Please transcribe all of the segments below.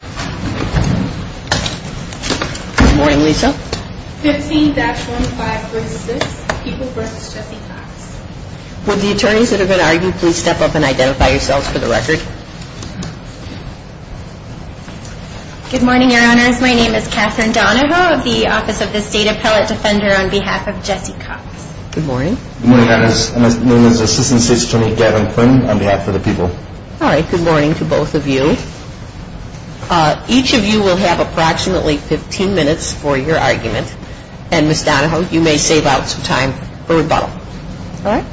Good morning, your honors. My name is Catherine Donahoe of the Office of the State Appellate Defender on behalf of Jesse Cox. Good morning. Good morning, your honors. My name is Assistant State's Attorney Gavin Quinn on behalf of the people. All right, good morning to both of you. Each of you will have approximately 15 minutes for your argument, and Ms. Donahoe, you may save out some time for rebuttal. All right.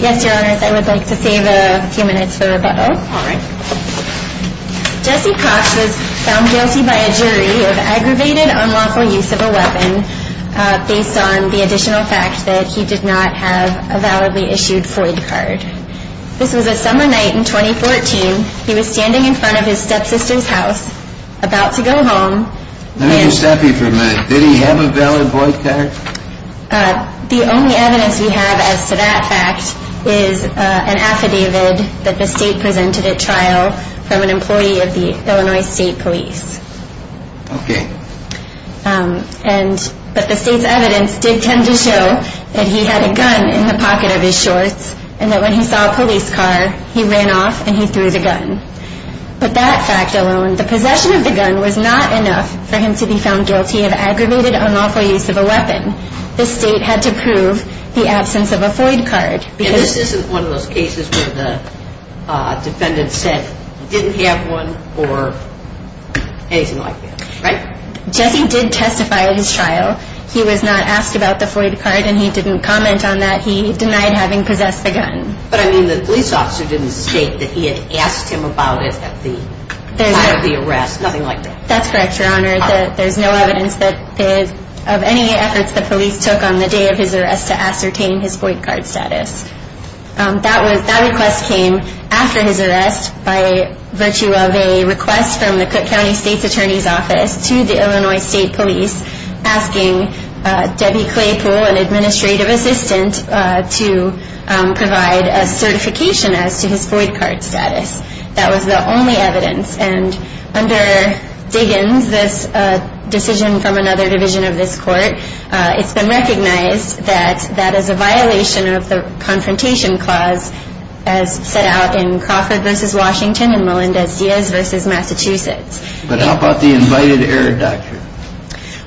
Yes, your honors, I would like to save a few minutes for rebuttal. All right. Jesse Cox was found guilty by a jury of aggravated unlawful use of a weapon based on the additional fact that he did not have a validly issued FOID card. This was a summer night in 2014. He was standing in front of his stepsister's house about to go home. Let me just stop you for a minute. Did he have a valid FOID card? The only evidence we have as to that fact is an affidavit that the state presented at the time. Okay. But the state's evidence did tend to show that he had a gun in the pocket of his shorts, and that when he saw a police car, he ran off and he threw the gun. But that fact alone, the possession of the gun was not enough for him to be found guilty of aggravated unlawful use of a weapon. The state had to prove the absence of a FOID card. And this isn't one of those cases where the defendant said he didn't have one or anything like that, right? Jesse did testify at his trial. He was not asked about the FOID card and he didn't comment on that. He denied having possessed the gun. But I mean, the police officer didn't state that he had asked him about it at the time of the arrest, nothing like that. That's correct, Your Honor. There's no evidence of any efforts the police took on the day of his arrest to ascertain his FOID card status. That request came after his arrest by virtue of a request from the Cook County State's Attorney's Office to the Illinois State Police asking Debbie Claypool, an administrative assistant, to provide a certification as to his FOID card status. That was the only evidence. And under Diggins, this decision from another division of this court, it's been recognized that that is a violation of the Confrontation Clause as set out in Crawford v. Washington and Melendez-Diaz v. Massachusetts. But how about the Invited Error Doctrine?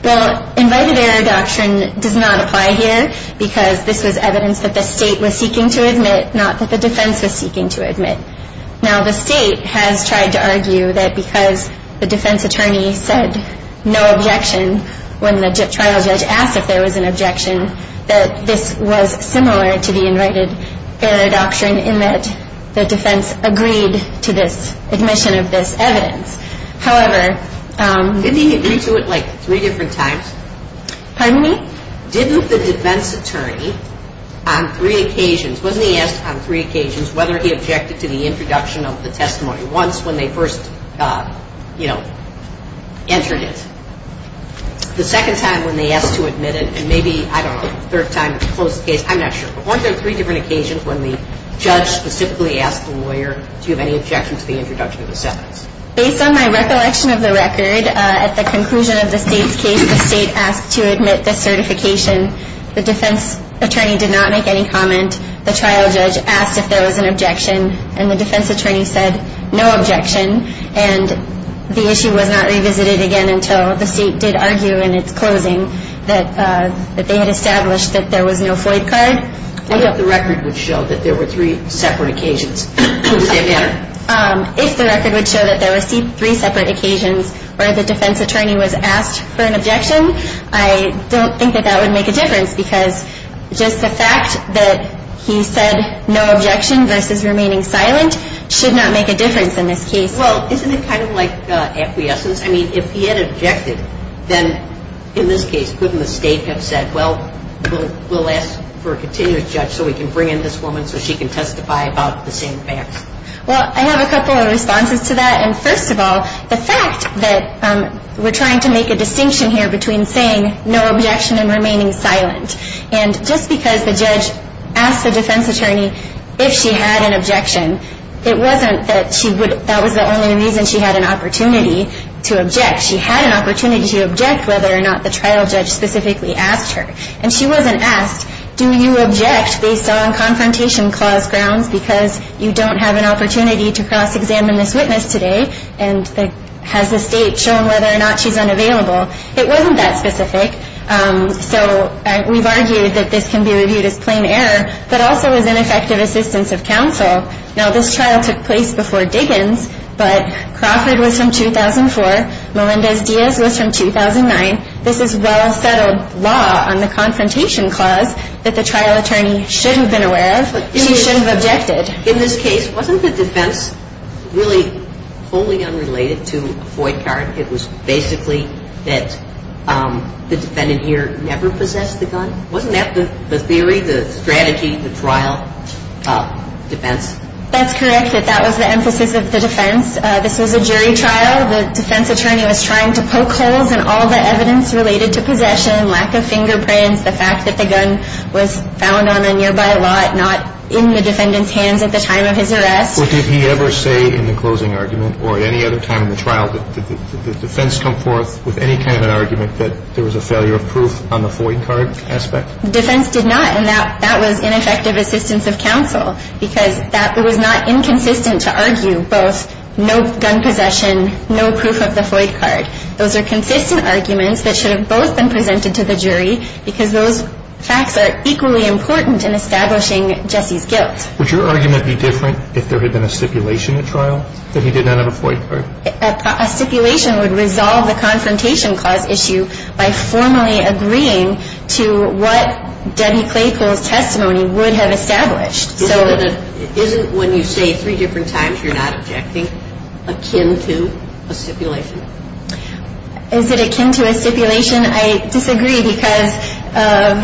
Well, Invited Error Doctrine does not apply here because this was evidence that the state was seeking to admit, not that the defense was seeking to admit. Now, the state has tried to argue that because the defense attorney said no objection when the trial judge asked if there was an objection, that this was similar to the Invited Error Doctrine in that the defense agreed to this admission of this evidence. However... Didn't he agree to it like three different times? Pardon me? Didn't the defense attorney on three occasions, wasn't he asked on three occasions whether he objected to the introduction of the testimony once when they first, you know, entered it? The second time when they asked to admit it, and maybe, I don't know, the third time in a closed case, I'm not sure, but weren't there three different occasions when the judge specifically asked the lawyer, do you have any objection to the introduction of this evidence? Based on my recollection of the record, at the conclusion of the state's case, the state asked to admit this certification. The defense attorney did not make any comment. The trial judge asked if there was an objection, and the defense attorney said no objection, and the issue was not revisited again until the state did argue in its closing that they had established that there was no Floyd card. What if the record would show that there were three separate occasions? Would they matter? If the record would show that there were three separate occasions where the defense attorney was asked for an objection, I don't think that that would make a difference because just the fact that he said no objection versus remaining silent should not make a difference in this case. Well, isn't it kind of like acquiescence? I mean, if he had objected, then in this case, couldn't the state have said, well, we'll ask for a continuous judge so we can bring in this woman so she can testify about the same facts? Well, I have a couple of responses to that, and first of all, the fact that we're trying to make a distinction here between saying no objection and remaining silent, and just because the judge asked the defense attorney if she had an objection, it wasn't that she would, that was the only reason she had an opportunity to object. She had an opportunity to object whether or not the trial judge specifically asked her, and she wasn't asked, do you object based on confrontation clause grounds because you don't have an opportunity to cross-examine this witness today, and has the state shown whether or not she's unavailable? It wasn't that specific. So we've argued that this can be reviewed as plain error, but also as ineffective assistance of counsel. Now, this trial took place before Diggins, but Crawford was from 2004. Melendez-Diaz was from 2009. This is well-settled law on the confrontation clause that the trial attorney should have been aware of. She should have objected. In this case, wasn't the defense really wholly unrelated to a void card? It was basically that the defendant here never possessed the gun? Wasn't that the theory, the strategy, the trial defense? That's correct. That was the emphasis of the defense. This was a jury trial. The defense attorney was trying to poke holes in all the evidence related to possession, lack of fingerprints, the fact that the gun was found on a nearby lot, not in the defendant's hands at the time of his arrest. Well, did he ever say in the closing argument or any other time in the trial that the defense come forth with any kind of an argument that there was a failure of proof on the void card aspect? Defense did not, and that was ineffective assistance of counsel, because that was not inconsistent to argue both no gun possession, no proof of the void card. Those are consistent arguments that should have both been presented to the jury, because those facts are equally important in establishing Jesse's guilt. Would your argument be different if there had been a stipulation at trial that he did not have a void card? A stipulation would resolve the confrontation cause issue by formally agreeing to what Debbie Claypool's testimony would have established. Isn't when you say three different times you're not objecting akin to a stipulation? Is it akin to a stipulation? I disagree, because of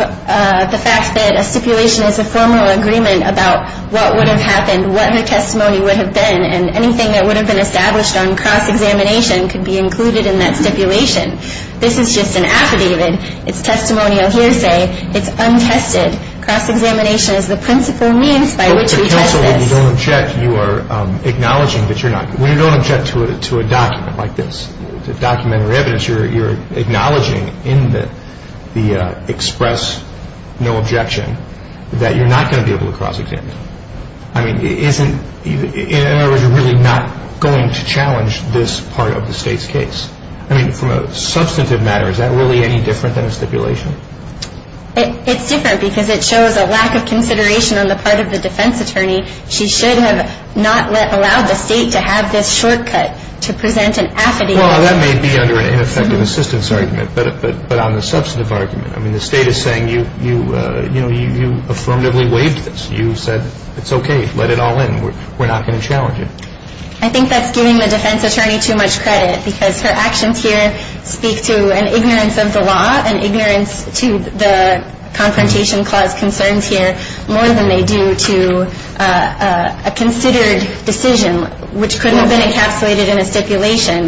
the fact that a stipulation is a formal agreement about what would have happened, what her testimony would have been, and anything that would have been established on cross-examination could be included in that stipulation. This is just an affidavit. It's testimonial hearsay. It's untested. Cross-examination is the principle means by which we test this. But the counsel, when you don't object, you are acknowledging that you're not. When you don't object to a document like this, a document or evidence, you're acknowledging in the express no objection that you're not going to be able to cross-examine. I mean, isn't it, in other words, you're really not going to challenge this part of the state's case? I mean, from a substantive matter, is that really any different than a stipulation? It's different because it shows a lack of consideration on the part of the defense attorney. She should have not allowed the state to have this shortcut to present an affidavit. Well, that may be under an ineffective assistance argument, but on the substantive argument, I mean, the state is saying you affirmatively waived this. You said it's okay. Let it all happen. We're not going to challenge it. I think that's giving the defense attorney too much credit because her actions here speak to an ignorance of the law, an ignorance to the Confrontation Clause concerns here more than they do to a considered decision, which could have been encapsulated in a stipulation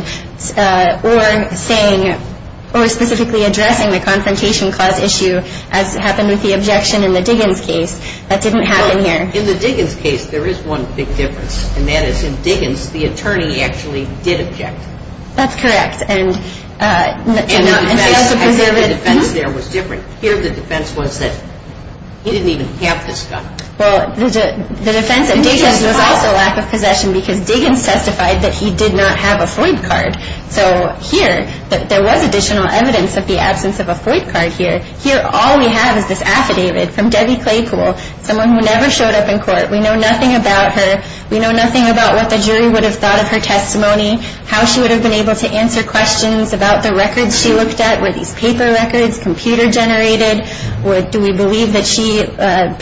or saying or specifically addressing the Confrontation Clause issue as happened with the objection in the Diggins case. That didn't happen here. In the Diggins case, there is one big difference, and that is in Diggins, the attorney actually did object. That's correct. And the defense there was different. Here, the defense was that he didn't even have this gun. Well, the defense at Diggins was also a lack of possession because Diggins testified that he did not have a Floyd card. So here, there was additional evidence of the absence of a Floyd card here. Here, all we have is this affidavit from Debbie Claypool, someone who never showed up in court. We know nothing about her. We know nothing about what the jury would have thought of her testimony, how she would have been able to answer questions about the records she looked at, were these paper records, computer-generated, or do we believe that she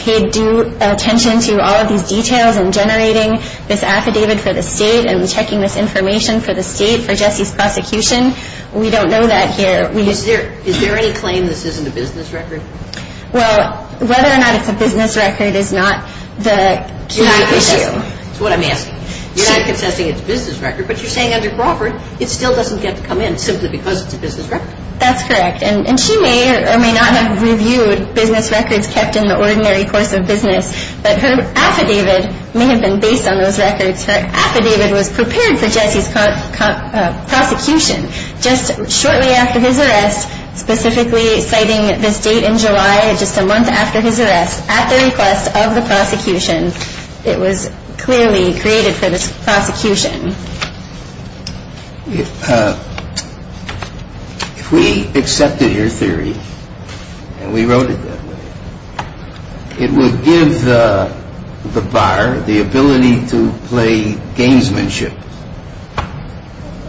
paid due attention to all of these details in generating this affidavit for the state and checking this information for the state for Jesse's prosecution? We don't know that here. Is there any claim this isn't a business record? Well, whether or not it's a business record is not the key issue. That's what I'm asking. You're not concessing it's a business record, but you're saying under Crawford, it still doesn't get to come in simply because it's a business record. That's correct. And she may or may not have reviewed business records kept in the ordinary course of business, but her affidavit may have been based on those records. Her affidavit was prepared for Jesse's prosecution just shortly after his arrest, specifically citing this date in July, just a month after his arrest, at the request of the prosecution. It was clearly created for the prosecution. If we accepted your theory, and we wrote it that way, it would give the bar the ability to play gamesmanship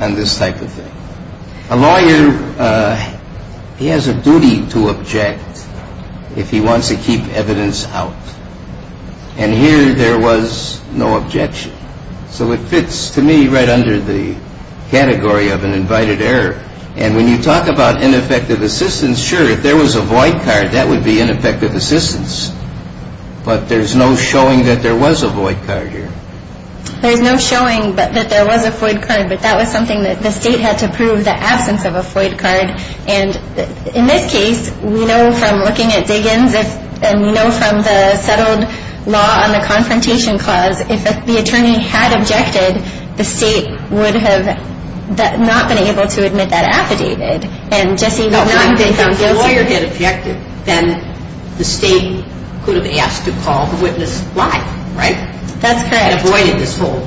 on this type of thing. A lawyer, he has a duty to object if he wants to keep evidence out. And here there was no objection. So it fits to me right under the category of an invited error. And when you talk about ineffective assistance, sure, if there was a void card, that would be ineffective assistance. But there's no showing that there was a void card here. There's no showing that there was a void card, but that was something that the State had to prove, the absence of a void card. And in this case, we know from looking at Diggins and we know from the settled law on the confrontation clause, if the attorney had objected, the State would have not been able to admit that affidavit. And Jesse would not have been found guilty. If the lawyer had objected, then the State could have asked to call the witness live, right? That's correct. And avoided this whole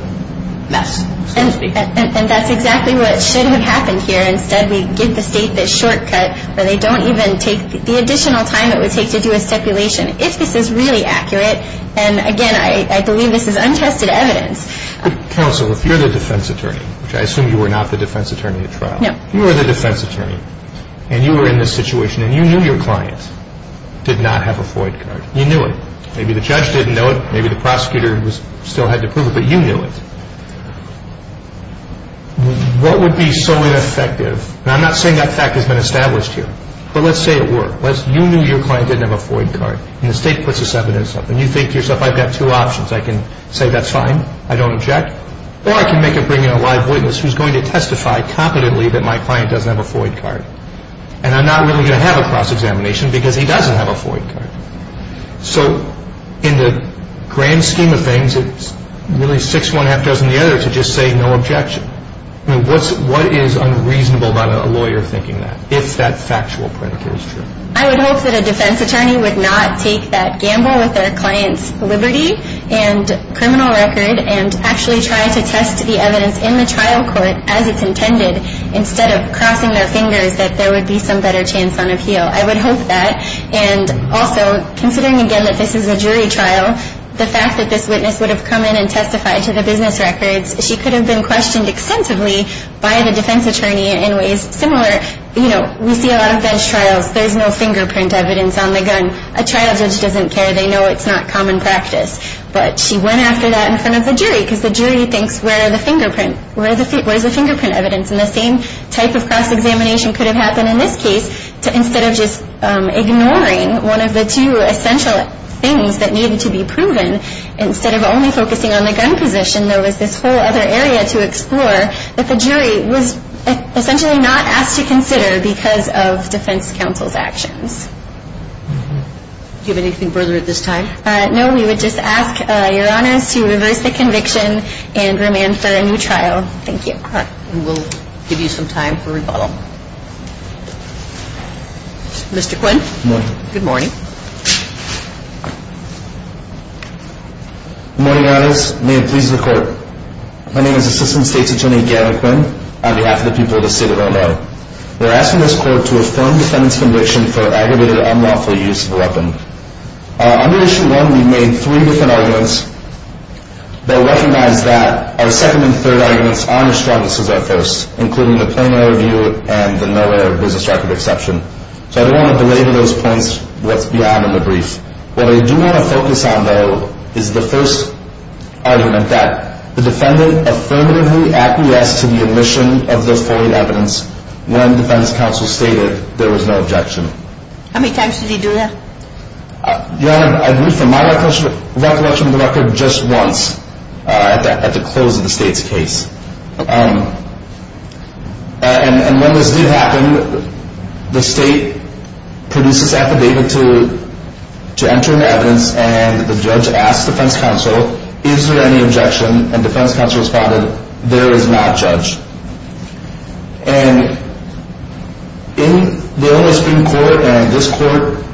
mess, so to speak. And that's exactly what should have happened here. Instead, we give the State this shortcut where they don't even take the additional time it would take to do a stipulation. If this is really accurate, and again, I believe this is untested evidence. But counsel, if you're the defense attorney, which I assume you were not the defense attorney at trial. No. You were the defense attorney, and you were in this situation, and you knew your client did not have a void card. You knew it. Maybe the judge didn't know it, maybe the prosecutor still had to prove it, but you knew it. What would be so ineffective, and I'm not saying that fact has been established here, but let's say it were. You knew your client didn't have a void card, and the State puts this evidence up, and you think to yourself, I've got two options. I can say that's fine, I don't object, or I can make it bring in a live witness who's going to testify competently that my client doesn't have a void card, and I'm not really going to have a cross-examination because he doesn't have a void card. So, in the grand scheme of things, it's really six one-half does and the other to just say no objection. What is unreasonable about a lawyer thinking that, if that factual print is true? I would hope that a defense attorney would not take that gamble with their client's liberty and criminal record and actually try to test the evidence in the trial court as it's intended instead of crossing their fingers that there would be some better chance on appeal. I would hope that. And also, considering again that this is a jury trial, the fact that this witness would have come in and testified to the business records, she could have been questioned extensively by the defense attorney in ways similar. You know, we see a lot of bench trials. There's no fingerprint evidence on the gun. A trial judge doesn't care. They know it's not common practice. But she went after that in front of the jury because the jury thinks, where are the fingerprint? Where's the fingerprint evidence? And the same type of cross-examination could have happened in this case. Instead of just ignoring one of the two essential things that needed to be proven, instead of only focusing on the gun position, there was this whole other area to explore that the jury was essentially not asked to consider because of defense counsel's actions. Do you have anything further at this time? No, we would just ask Your Honors to reverse the conviction and remand for a new trial. Thank you. We'll give you some time for rebuttal. Mr. Quinn. Good morning. Good morning. Good morning, Your Honors. May it please the Court. My name is Assistant State's Attorney Gavin Quinn on behalf of the people of the State of Illinois. We're asking this Court to affirm defendant's conviction for aggravated, unlawful use of a weapon. Under Issue 1, we made three different arguments that recognize that our second and third arguments aren't as strong as our first, including the plain error view and the no error business record exception. So I don't want to delay to those points what's beyond in the brief. What I do want to focus on, though, is the first argument, that the defendant affirmatively acquiesced to the admission of the foreign evidence when defense counsel stated there was no objection. How many times did he do that? Your Honor, I've moved from my recollection to the record just once at the close of the State's case. And when this did happen, the State produces affidavit to enter in the evidence, and the judge asks defense counsel, is there any objection? And defense counsel responded, there is not, Judge. And in the Illinois Supreme Court and this Court,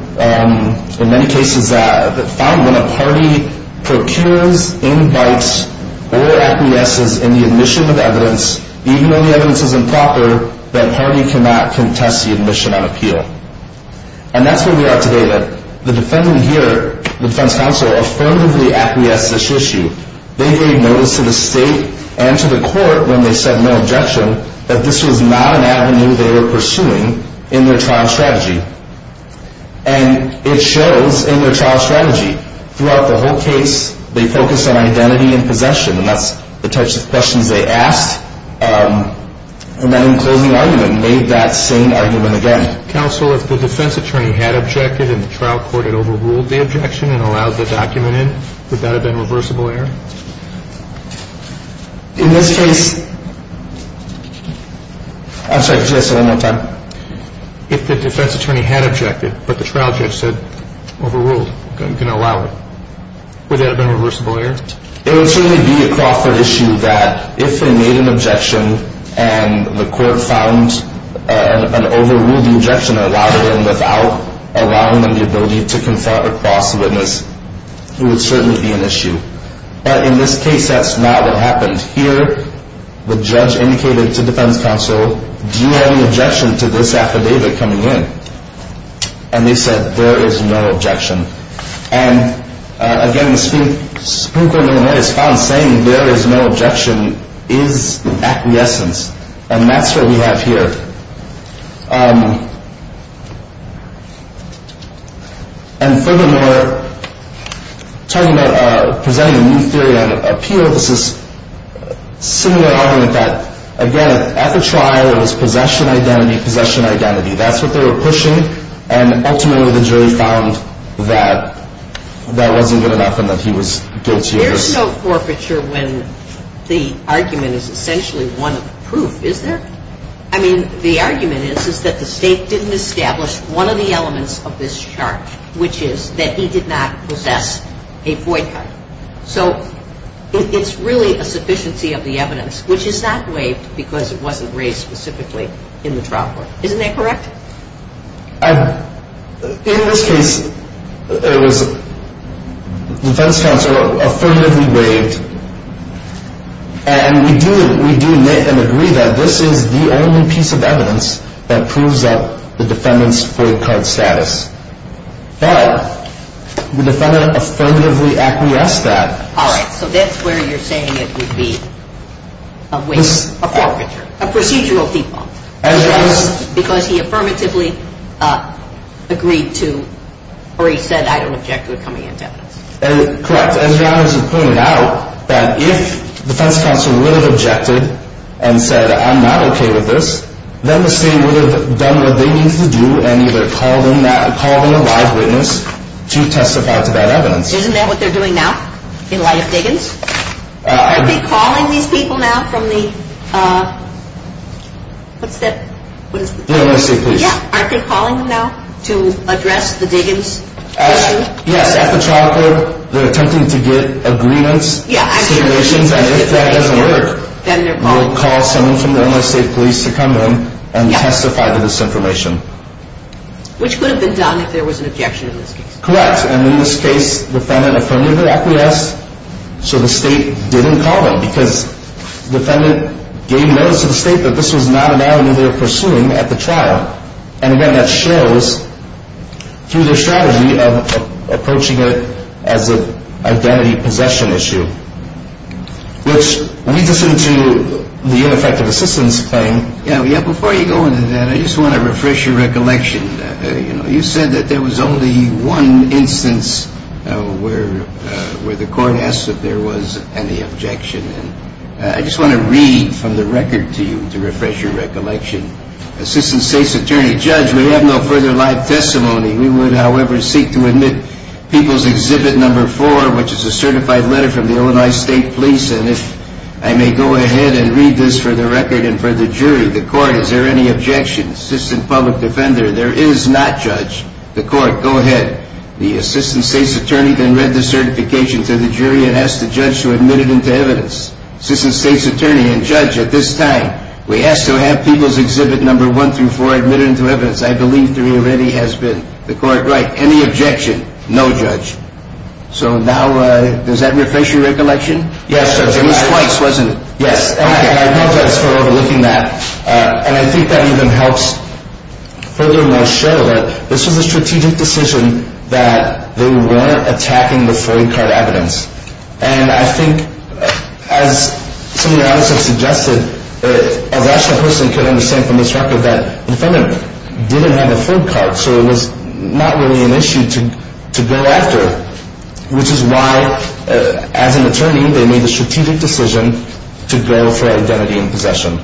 in many cases, found when a party procures, invites, or acquiesces in the admission of evidence, even though the evidence is improper, that party cannot contest the admission on appeal. And that's where we are today. The defendant here, the defense counsel, affirmatively acquiesced to this issue. They gave notice to the State and to the Court when they said no objection that this was not an avenue they were pursuing in their trial strategy. And it shows in their trial strategy. Throughout the whole case, they focused on identity and possession, and that's the types of questions they asked. And then in closing argument, made that same argument again. Counsel, if the defense attorney had objected and the trial court had overruled the objection and allowed the document in, would that have been reversible error? In this case, I'm sorry, say that one more time. If the defense attorney had objected, but the trial judge said, overruled, going to allow it, would that have been reversible error? It would certainly be a Crawford issue that if they made an objection and the court found and overruled the objection and allowed it in without allowing them the ability to confront or cross the witness, it would certainly be an issue. But in this case, that's not what happened. Here, the judge indicated to defense counsel, do you have an objection to this affidavit coming in? And they said, there is no objection. And again, the spook in their response saying there is no objection is acquiescence. And that's what we have here. And furthermore, talking about presenting a new theory on appeal, this is similar argument that, again, at the trial, it was possession identity, possession identity. That's what they were pushing. And ultimately, the jury found that that wasn't good enough and that he was guilty of this. There's no forfeiture when the argument is essentially one of proof, is there? I mean, the argument is that the state didn't establish one of the elements of this charge, which is that he did not possess a void card. So it's really a sufficiency of the evidence, which is not waived because it wasn't raised specifically in the trial court. Isn't that correct? In this case, it was defense counsel affirmatively waived. And we do admit and agree that this is the only piece of evidence that proves that the defendant's void card status. But the defendant affirmatively acquiesced that. All right. So that's where you're saying it would be a waiver, a forfeiture, a procedural default. Because he affirmatively agreed to or he said, I don't object to it coming into evidence. Correct. As Janice has pointed out, that if defense counsel would have objected and said, I'm not okay with this, then the state would have done what they needed to do and either call them a live witness to testify to that evidence. Isn't that what they're doing now in light of Diggins? Aren't they calling these people now from the – what's that? The Illinois State Police. Yeah. Aren't they calling them now to address the Diggins issue? Yes. At the trial court, they're attempting to get agreements, situations, and if that doesn't work, they'll call someone from the Illinois State Police to come in and testify to this information. Which could have been done if there was an objection in this case. Correct. And in this case, the defendant affirmatively acquiesced. So the state didn't call them because the defendant gave notice to the state that this was not an avenue they were pursuing at the trial. And again, that shows through their strategy of approaching it as an identity possession issue. Which leads us into the ineffective assistance claim. Yeah, before you go into that, I just want to refresh your recollection. You said that there was only one instance where the court asked if there was any objection. I just want to read from the record to you to refresh your recollection. Assistant State's Attorney, Judge, we have no further live testimony. We would, however, seek to admit People's Exhibit No. 4, which is a certified letter from the Illinois State Police, and if I may go ahead and read this for the record and for the jury. The court, is there any objection? Assistant Public Defender, there is not, Judge. The court, go ahead. The Assistant State's Attorney then read the certification to the jury and asked the judge to admit it into evidence. Assistant State's Attorney and Judge, at this time, we ask to have People's Exhibit No. 1 through 4 admitted into evidence. I believe there already has been. The court, write. Any objection? No, Judge. So now, does that refresh your recollection? Yes, Judge. It was twice, wasn't it? Yes. And I apologize for overlooking that, and I think that even helps further my share of it. This was a strategic decision that they weren't attacking the Freud card evidence, and I think, as some of the others have suggested, as I personally could understand from this record, that the defendant didn't have a Freud card, so it was not really an issue to go after, which is why, as an attorney, they made the strategic decision to go for identity and possession.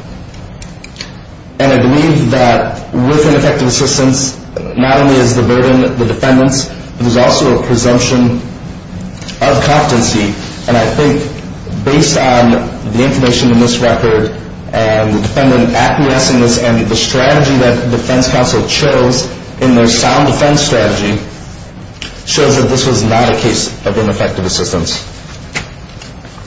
And I believe that with ineffective assistance, not only is the burden the defendant's, but there's also a presumption of competency, and I think, based on the information in this record and the defendant acquiescing to this and the strategy that the defense counsel chose in their sound defense strategy, shows that this was not a case of ineffective assistance.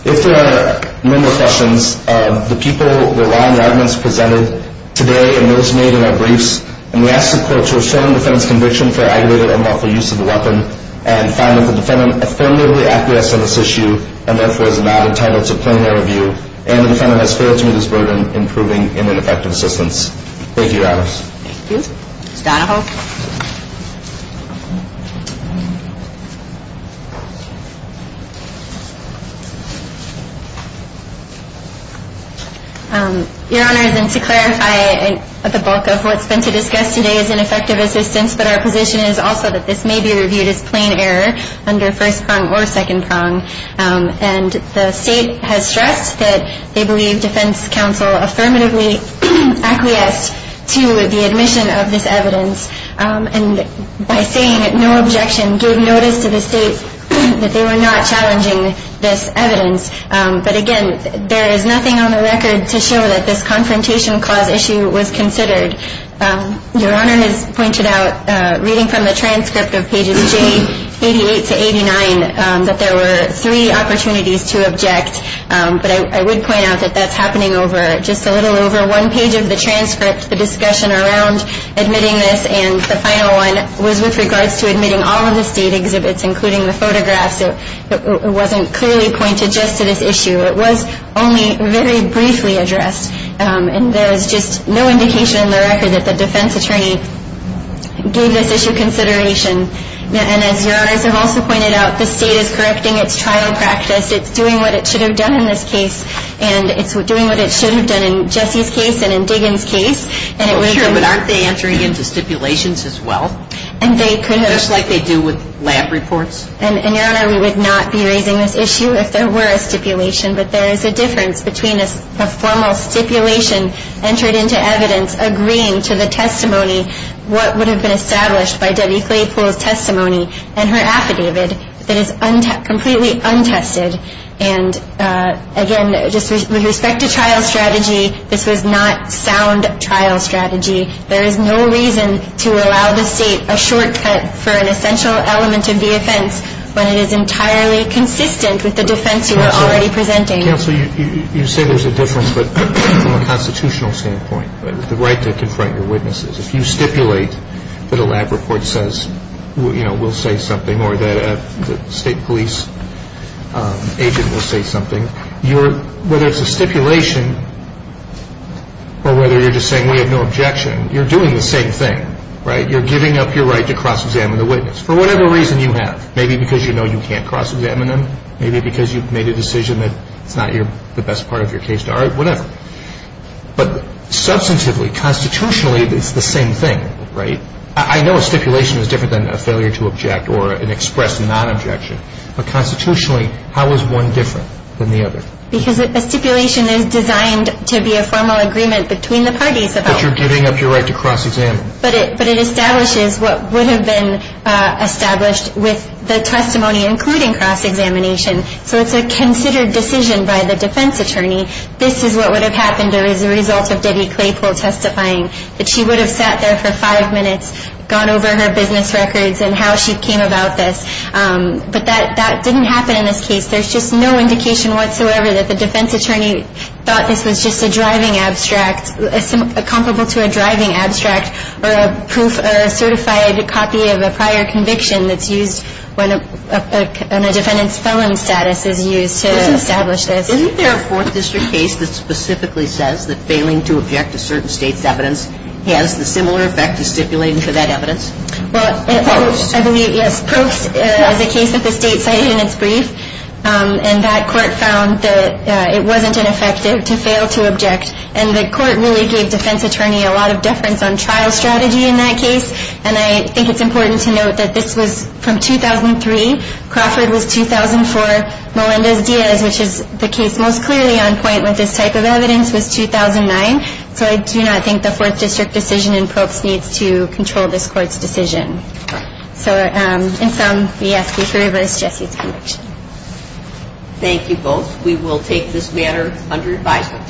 If there are no more questions, the people, the law, and the arguments presented today and those made in our briefs, and we ask the court to affirm the defendant's conviction for aggravated or unlawful use of the weapon and find that the defendant affirmatively acquiesced on this issue and, therefore, is not entitled to plain air review, and the defendant has failed to meet his burden in proving ineffective assistance. Thank you, Your Honors. Thank you. Ms. Donahoe. Your Honors, and to clarify the bulk of what's been to discuss today is ineffective assistance, but our position is also that this may be reviewed as plain error under first prong or second prong, and the State has stressed that they believe defense counsel affirmatively acquiesced to the admission of this evidence and, by saying no objection, gave notice to the State that they were not challenging this evidence, but, again, there is nothing on the record to show that this confrontation clause issue was considered. Your Honor has pointed out, reading from the transcript of pages J88 to 89, that there were three opportunities to object, but I would point out that that's happening over just a little over one page of the transcript, the discussion around admitting this, and the final one was with regards to admitting all of the State exhibits, including the photographs. It wasn't clearly pointed just to this issue. It was only very briefly addressed, and there is just no indication in the record that the defense attorney gave this issue consideration. And, as Your Honors have also pointed out, the State is correcting its trial practice. It's doing what it should have done in this case, and it's doing what it should have done in Jesse's case and in Diggins' case. Well, sure, but aren't they entering into stipulations as well? And they could have. Just like they do with lab reports. And, Your Honor, we would not be raising this issue if there were a stipulation, but there is a difference between a formal stipulation entered into evidence agreeing to the testimony what would have been established by Debbie Claypool's testimony and her affidavit that is completely untested. And, again, just with respect to trial strategy, this was not sound trial strategy. There is no reason to allow the State a shortcut for an essential element of the offense when it is entirely consistent with the defense you are already presenting. Counsel, you say there's a difference, but from a constitutional standpoint, the right to confront your witnesses, if you stipulate that a lab report says, you know, we'll say something, or that a State police agent will say something, whether it's a stipulation or whether you're just saying we have no objection, you're doing the same thing, right? You're giving up your right to cross-examine the witness for whatever reason you have, maybe because you know you can't cross-examine them, maybe because you've made a decision that it's not the best part of your case to argue, whatever. But substantively, constitutionally, it's the same thing, right? I know a stipulation is different than a failure to object or an expressed non-objection. But constitutionally, how is one different than the other? Because a stipulation is designed to be a formal agreement between the parties. But you're giving up your right to cross-examine. But it establishes what would have been established with the testimony, including cross-examination. So it's a considered decision by the defense attorney. This is what would have happened as a result of Debbie Claypool testifying, that she would have sat there for five minutes, gone over her business records and how she came about this. But that didn't happen in this case. There's just no indication whatsoever that the defense attorney thought this was just a driving abstract, comparable to a driving abstract or a proof or a certified copy of a prior conviction that's used when a defendant's felon status is used to establish this. Isn't there a Fourth District case that specifically says that failing to object to certain states' evidence has the similar effect of stipulating for that evidence? Well, I believe, yes. Probst is a case that the state cited in its brief. And that court found that it wasn't ineffective to fail to object. And the court really gave defense attorney a lot of deference on trial strategy in that case. And I think it's important to note that this was from 2003. Crawford was 2004. Melendez-Diaz, which is the case most clearly on point with this type of evidence, was 2009. So I do not think the Fourth District decision in Probst needs to control this court's decision. So in sum, we ask you to reverse Jesse's conviction. Thank you both. We will take this matter under advisement.